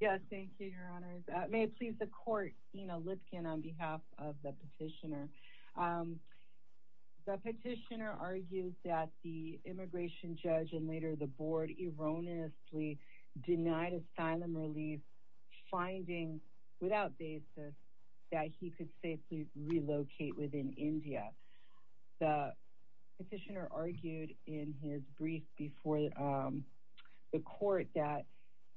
May it please the court, Ina Lipkin on behalf of the petitioner. The petitioner argued that the immigration judge and later the board erroneously denied asylum relief finding without basis that he could safely relocate within India. The petitioner argued in his brief before the court that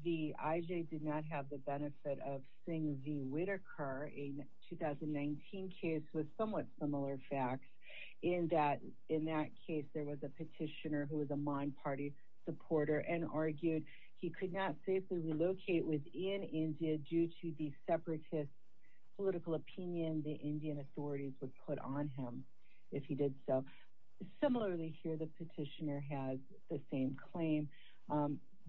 the IJ did not have the benefit of Singh v. Whitaker in a 2019 case with somewhat similar facts in that in that case there was a petitioner who was a Maan Party supporter and argued he could not safely relocate within India due to the separatist political opinion the Indian authorities would put on him if he did so. Similarly here the petitioner has the same claim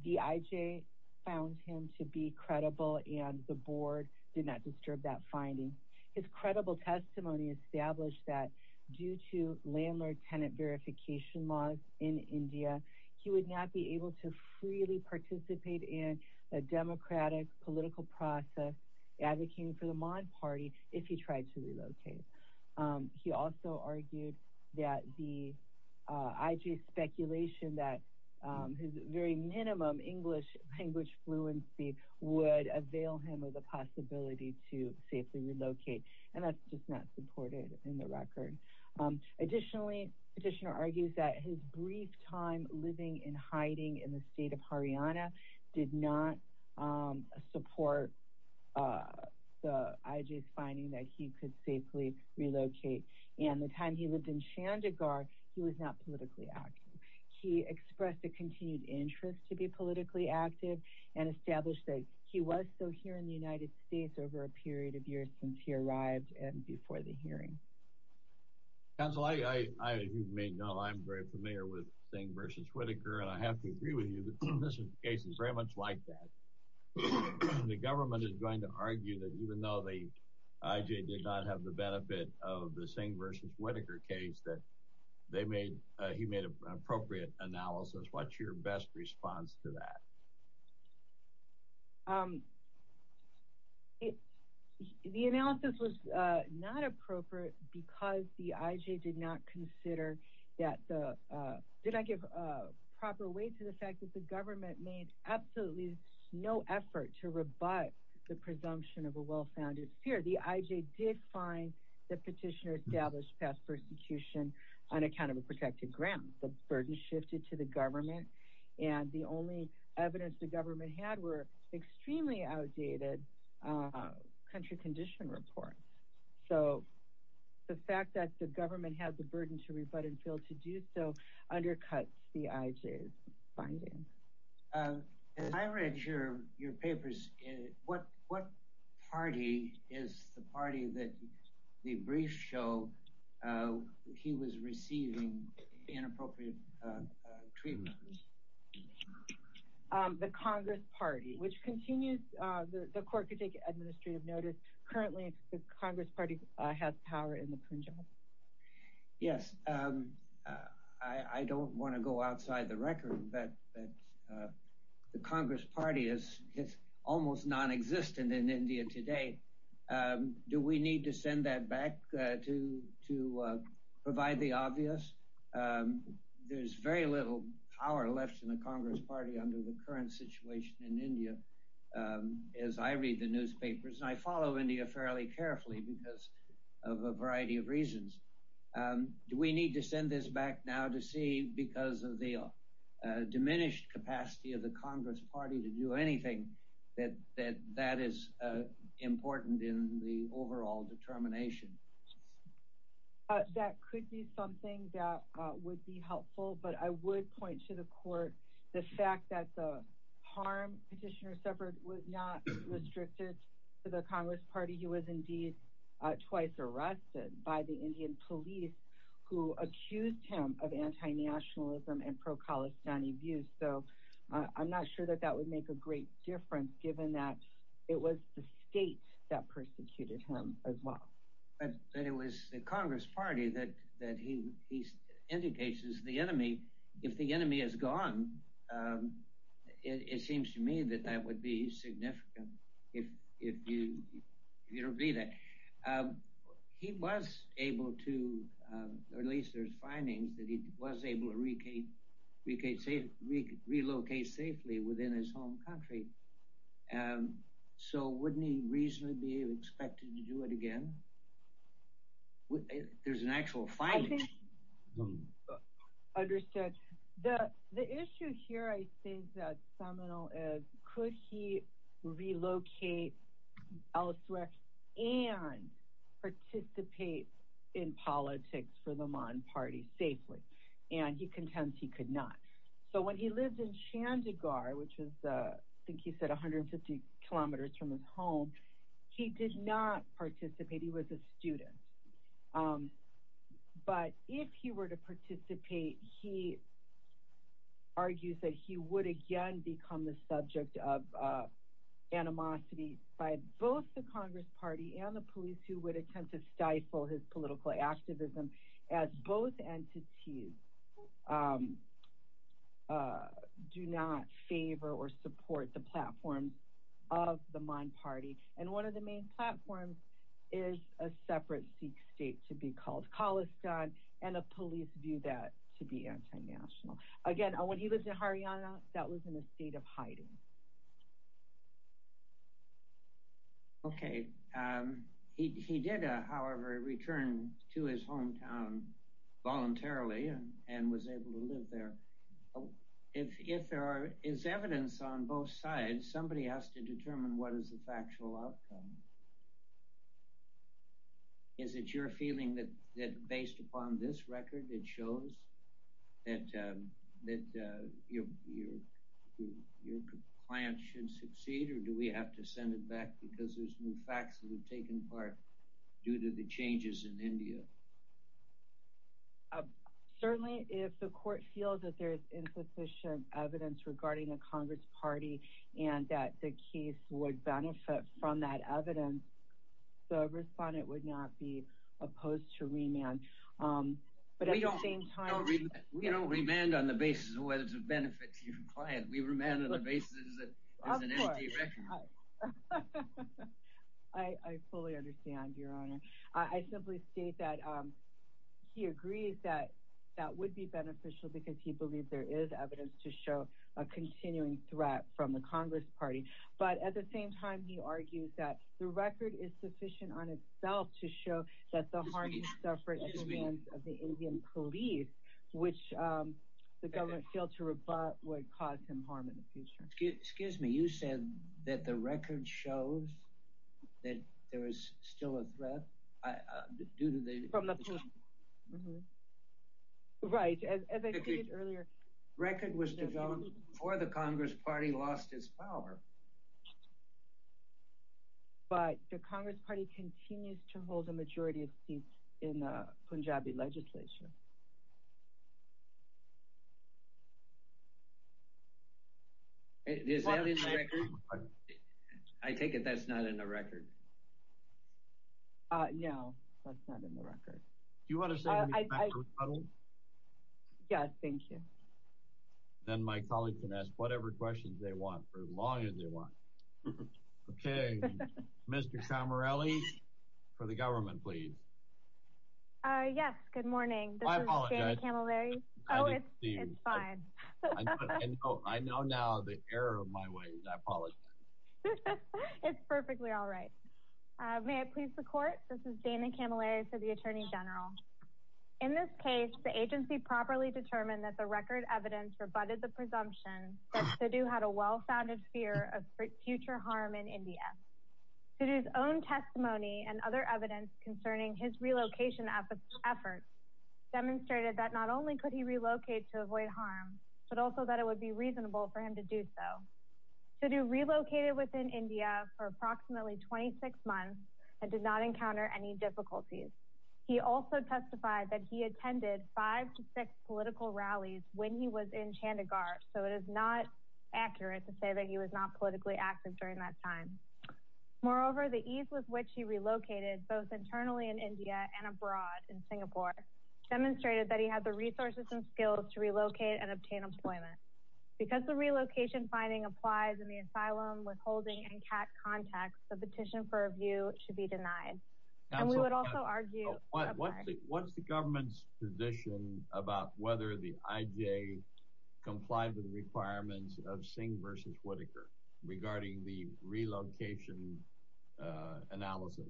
the IJ found him to be credible and the board did not disturb that finding. His credible testimony established that due to landlord-tenant verification laws in India he would not be able to freely participate in a democratic political process advocating for the Maan Party if he tried to relocate. He also argued that the IJ's speculation that his very minimum English language fluency would avail him of the possibility to safely relocate and that's just not supported in the record. Additionally petitioner argues that his brief time living in hiding in the state of Haryana did not support the IJ's finding that he could safely relocate and the time he lived in Chandigarh he was not politically active. He expressed a continued interest to be politically active and established that he was still here in the United States over a period of years since he arrived and before the hearing. Counsel I you may know I'm very familiar with Singh vs. Whitaker and I have to agree with you that this case is very much like that. The government is going to argue that even though the IJ did not have the benefit of the Singh vs. Whitaker case that they made he made an appropriate analysis. What's your best response to that? The analysis was not appropriate because the IJ did not consider that the did not give a proper weight to the fact that the government made absolutely no effort to rebut the presumption of a well-founded fear. The IJ did find that petitioner established past persecution on account of a protected ground. The burden shifted to the government and the only evidence the government had were extremely outdated country condition reports. So the fact that the government had the burden to rebut and fail to do so undercuts the IJ's finding. As I read your papers what party is the party that the briefs show he was receiving inappropriate treatment? The Congress Party which continues the court could take administrative notice. Currently the Congress Party has power in the Punjab. Yes, I don't want to go outside the record that the Congress Party is almost non-existent in India today. Do we need to send that back to provide the obvious? There's very little power left in the Congress Party under the current situation in India as I read the newspapers and I follow India fairly carefully because of a variety of reasons. Do we need to send this back now to see because of the diminished capacity of the Congress Party to do anything that that is important in the overall determination? That could be something that would be helpful but I would point to the court the fact that the harm petitioner suffered was not restricted to the Congress Party. He was indeed twice arrested by the Indian police who accused him of anti-nationalism and pro-Khalistani views. So I'm not sure that that would make a great difference given that it was the state that persecuted him as well. But that it was the Congress Party that he indicates is the enemy. If the enemy is gone it seems to me that that would be significant if you don't believe that. He was able to, or at least there's findings that he was able to relocate safely within his home country. So wouldn't he reasonably be expected to do it again? There's an actual finding. Understood. The issue here I think that's seminal is could he relocate elsewhere and participate in politics for the Mahan Party safely? And he contends he could not. So when he lived in Chandigarh, which is I think he said 150 kilometers from his home, he did not participate. He was a student. But if he were to participate he argues that he would again become the subject of animosity by both the Congress Party and the police who would attempt to stifle his political activism as both entities. Do not favor or support the platforms of the Mahan Party. And one of the main platforms is a separate Sikh state to be called Khalistan and the police view that to be anti-national. Again, when he lived in Haryana, that was in a state of hiding. Okay. He did, however, return to his hometown voluntarily and was able to live there. If there is evidence on both sides, somebody has to determine what is the factual outcome. Is it your feeling that based upon this record it shows that your client should succeed or do we have to send it back because there's new facts that have taken part due to the changes in India? Certainly, if the court feels that there is insufficient evidence regarding the Congress Party and that the case would benefit from that evidence, the respondent would not be opposed to remand. We don't remand on the basis of whether it benefits your client. We remand on the basis that there's an empty record. I fully understand, Your Honor. I simply state that he agrees that that would be beneficial because he believes there is evidence to show a continuing threat from the Congress Party. But at the same time, he argues that the record is sufficient on itself to show that the harm he suffered at the hands of the Indian police, which the government failed to rebut, would cause him harm in the future. Excuse me, you said that the record shows that there is still a threat due to the... Right, as I stated earlier... The record was developed before the Congress Party lost its power. But the Congress Party continues to hold a majority of seats in Punjabi legislation. Is that in the record? I take it that's not in the record. No, that's not in the record. Do you want to say anything about the rebuttal? Yes, thank you. Then my colleagues can ask whatever questions they want for as long as they want. Okay, Mr. Samarelli, for the government, please. Yes, good morning. I apologize. Oh, it's fine. I know now the error of my ways. I apologize. It's perfectly all right. May I please the court? This is Dana Camilleri for the Attorney General. In this case, the agency properly determined that the record evidence rebutted the presumption that Sudhu had a well-founded fear of future harm in India. Sudhu's own testimony and other evidence concerning his relocation efforts demonstrated that not only could he relocate to avoid harm, but also that it would be reasonable for him to do so. Sudhu relocated within India for approximately 26 months and did not encounter any difficulties. He also testified that he attended five to six political rallies when he was in Chandigarh, so it is not accurate to say that he was not politically active during that time. Moreover, the ease with which he relocated both internally in India and abroad in Singapore demonstrated that he had the resources and skills to relocate and obtain employment. Because the relocation finding applies in the asylum, withholding, and CAT context, the petition for review should be denied. What's the government's position about whether the IJ complied with the requirements of Singh v. Whitaker regarding the relocation analysis?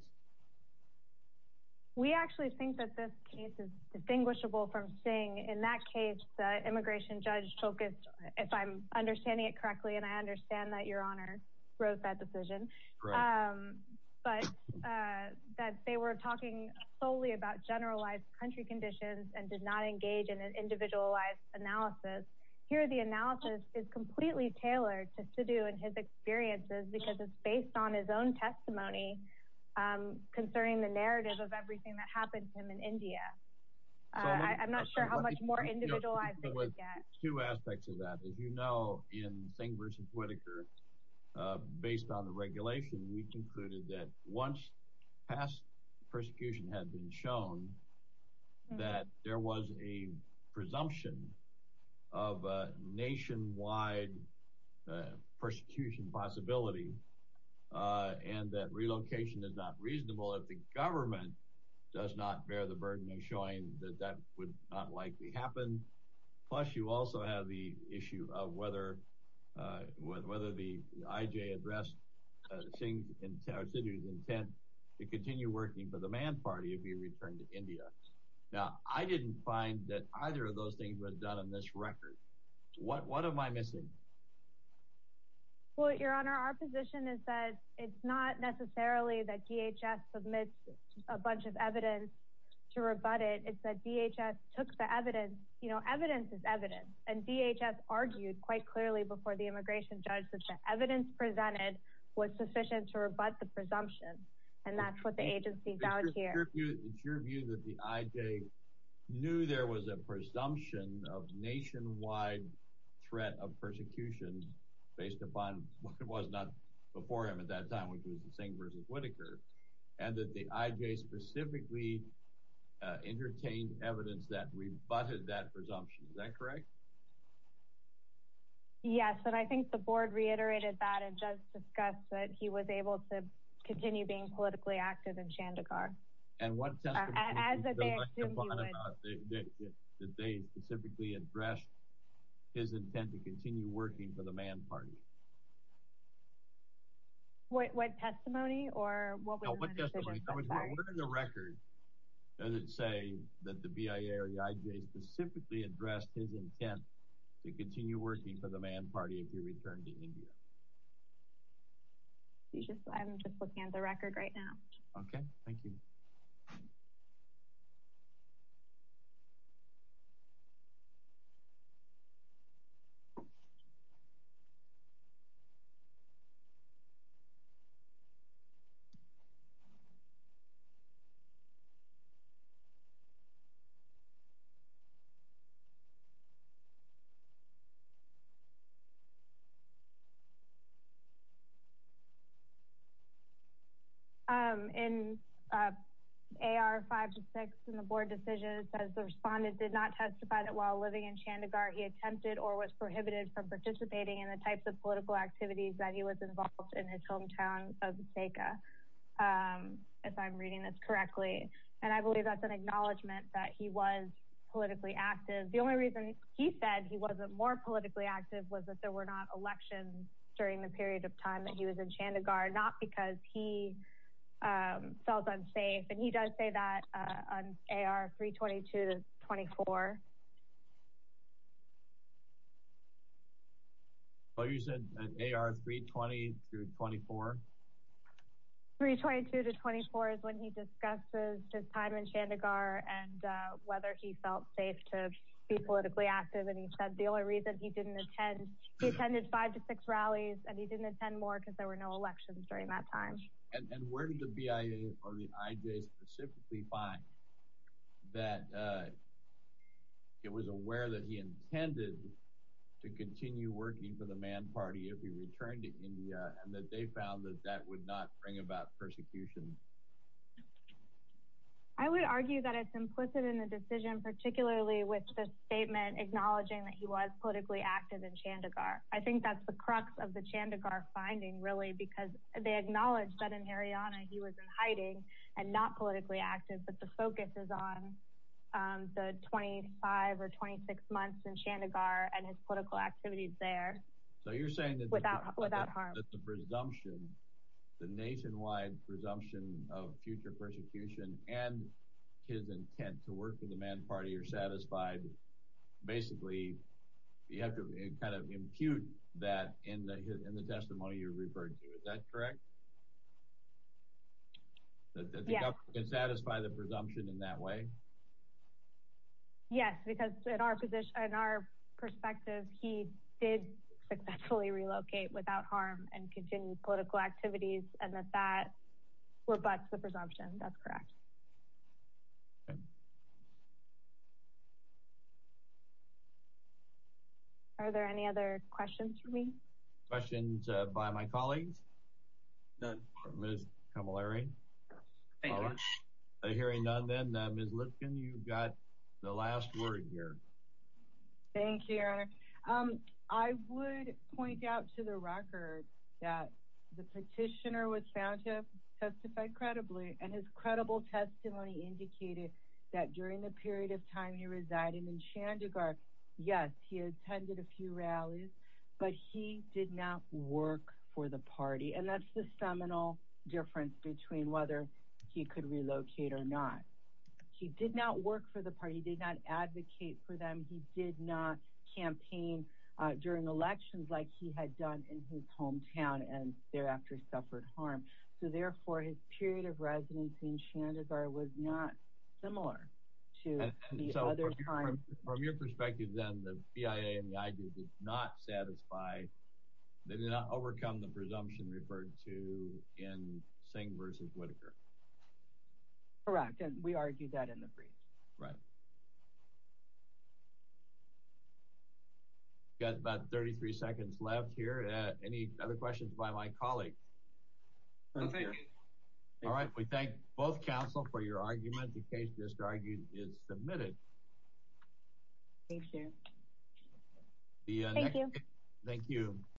We actually think that this case is distinguishable from Singh. In that case, the immigration judge focused, if I'm understanding it correctly, and I understand that Your Honor wrote that decision. But that they were talking solely about generalized country conditions and did not engage in an individualized analysis. Here, the analysis is completely tailored to Sudhu and his experiences because it's based on his own testimony concerning the narrative of everything that happened to him in India. I'm not sure how much more individualized it would get. Two aspects of that. As you know, in Singh v. Whitaker, based on the regulation, we concluded that once past persecution had been shown, that there was a presumption of a nationwide persecution possibility. And that relocation is not reasonable if the government does not bear the burden of showing that that would not likely happen. Plus, you also have the issue of whether the IJ addressed Singh's intent to continue working for the Man Party if he returned to India. Now, I didn't find that either of those things were done on this record. What am I missing? Well, Your Honor, our position is that it's not necessarily that DHS submits a bunch of evidence to rebut it. It's that DHS took the evidence. You know, evidence is evidence. And DHS argued quite clearly before the immigration judge that the evidence presented was sufficient to rebut the presumption. And that's what the agency found here. So it's your view that the IJ knew there was a presumption of nationwide threat of persecution based upon what was not before him at that time, which was Singh v. Whitaker, and that the IJ specifically entertained evidence that rebutted that presumption. Is that correct? Yes, and I think the board reiterated that and just discussed that he was able to continue being politically active in Chandigarh. And what testimony do you feel like you brought about that they specifically addressed his intent to continue working for the Man Party? What testimony or what we're going to say? Where in the record does it say that the BIA or the IJ specifically addressed his intent to continue working for the Man Party if he returned to India? I'm just looking at the record right now. Okay, thank you. In AR-5-6 in the board decision, it says the respondent did not testify that while living in Chandigarh, he attempted or was prohibited from participating in the types of political activities that he was involved in his hometown of Jaika. If I'm reading this correctly, and I believe that's an acknowledgement that he was politically active. The only reason he said he wasn't more politically active was that there were not elections during the period of time that he was in Chandigarh, not because he felt unsafe. And he does say that on AR-322-24. Oh, you said AR-320-24? 322-24 is when he discusses his time in Chandigarh and whether he felt safe to be politically active. And he said the only reason he didn't attend, he attended five to six rallies, and he didn't attend more because there were no elections during that time. And where did the BIA or the IJ specifically find that it was aware that he intended to continue working for the Man Party if he returned to India and that they found that that would not bring about persecution? I would argue that it's implicit in the decision, particularly with the statement acknowledging that he was politically active in Chandigarh. I think that's the crux of the Chandigarh finding, really, because they acknowledge that in Haryana he was in hiding and not politically active, but the focus is on the 25 or 26 months in Chandigarh and his political activities there without harm. But the presumption, the nationwide presumption of future persecution and his intent to work for the Man Party are satisfied. Basically, you have to kind of impute that in the testimony you referred to. Is that correct? Yes. That the government can satisfy the presumption in that way? Yes, because in our perspective, he did successfully relocate without harm and continued political activities, and that that rebuts the presumption. That's correct. Are there any other questions for me? Questions by my colleagues? None. Ms. Kamilari? Thank you. Hearing none, then, Ms. Lipkin, you've got the last word here. Thank you, Your Honor. I would point out to the record that the petitioner was found to have testified credibly, and his credible testimony indicated that during the period of time he resided in Chandigarh, yes, he attended a few rallies, but he did not work for the party. And that's the seminal difference between whether he could relocate or not. He did not work for the party. He did not advocate for them. He did not campaign during elections like he had done in his hometown and thereafter suffered harm. So, therefore, his period of residence in Chandigarh was not similar to the other times. From your perspective, then, the BIA and the IG did not satisfy, they did not overcome the presumption referred to in Singh v. Whitaker. Correct, and we argued that in the brief. Right. We've got about 33 seconds left here. Any other questions by my colleagues? None here. All right, we thank both counsel for your argument. The case disargued is submitted. Thank you. Thank you. Thank you.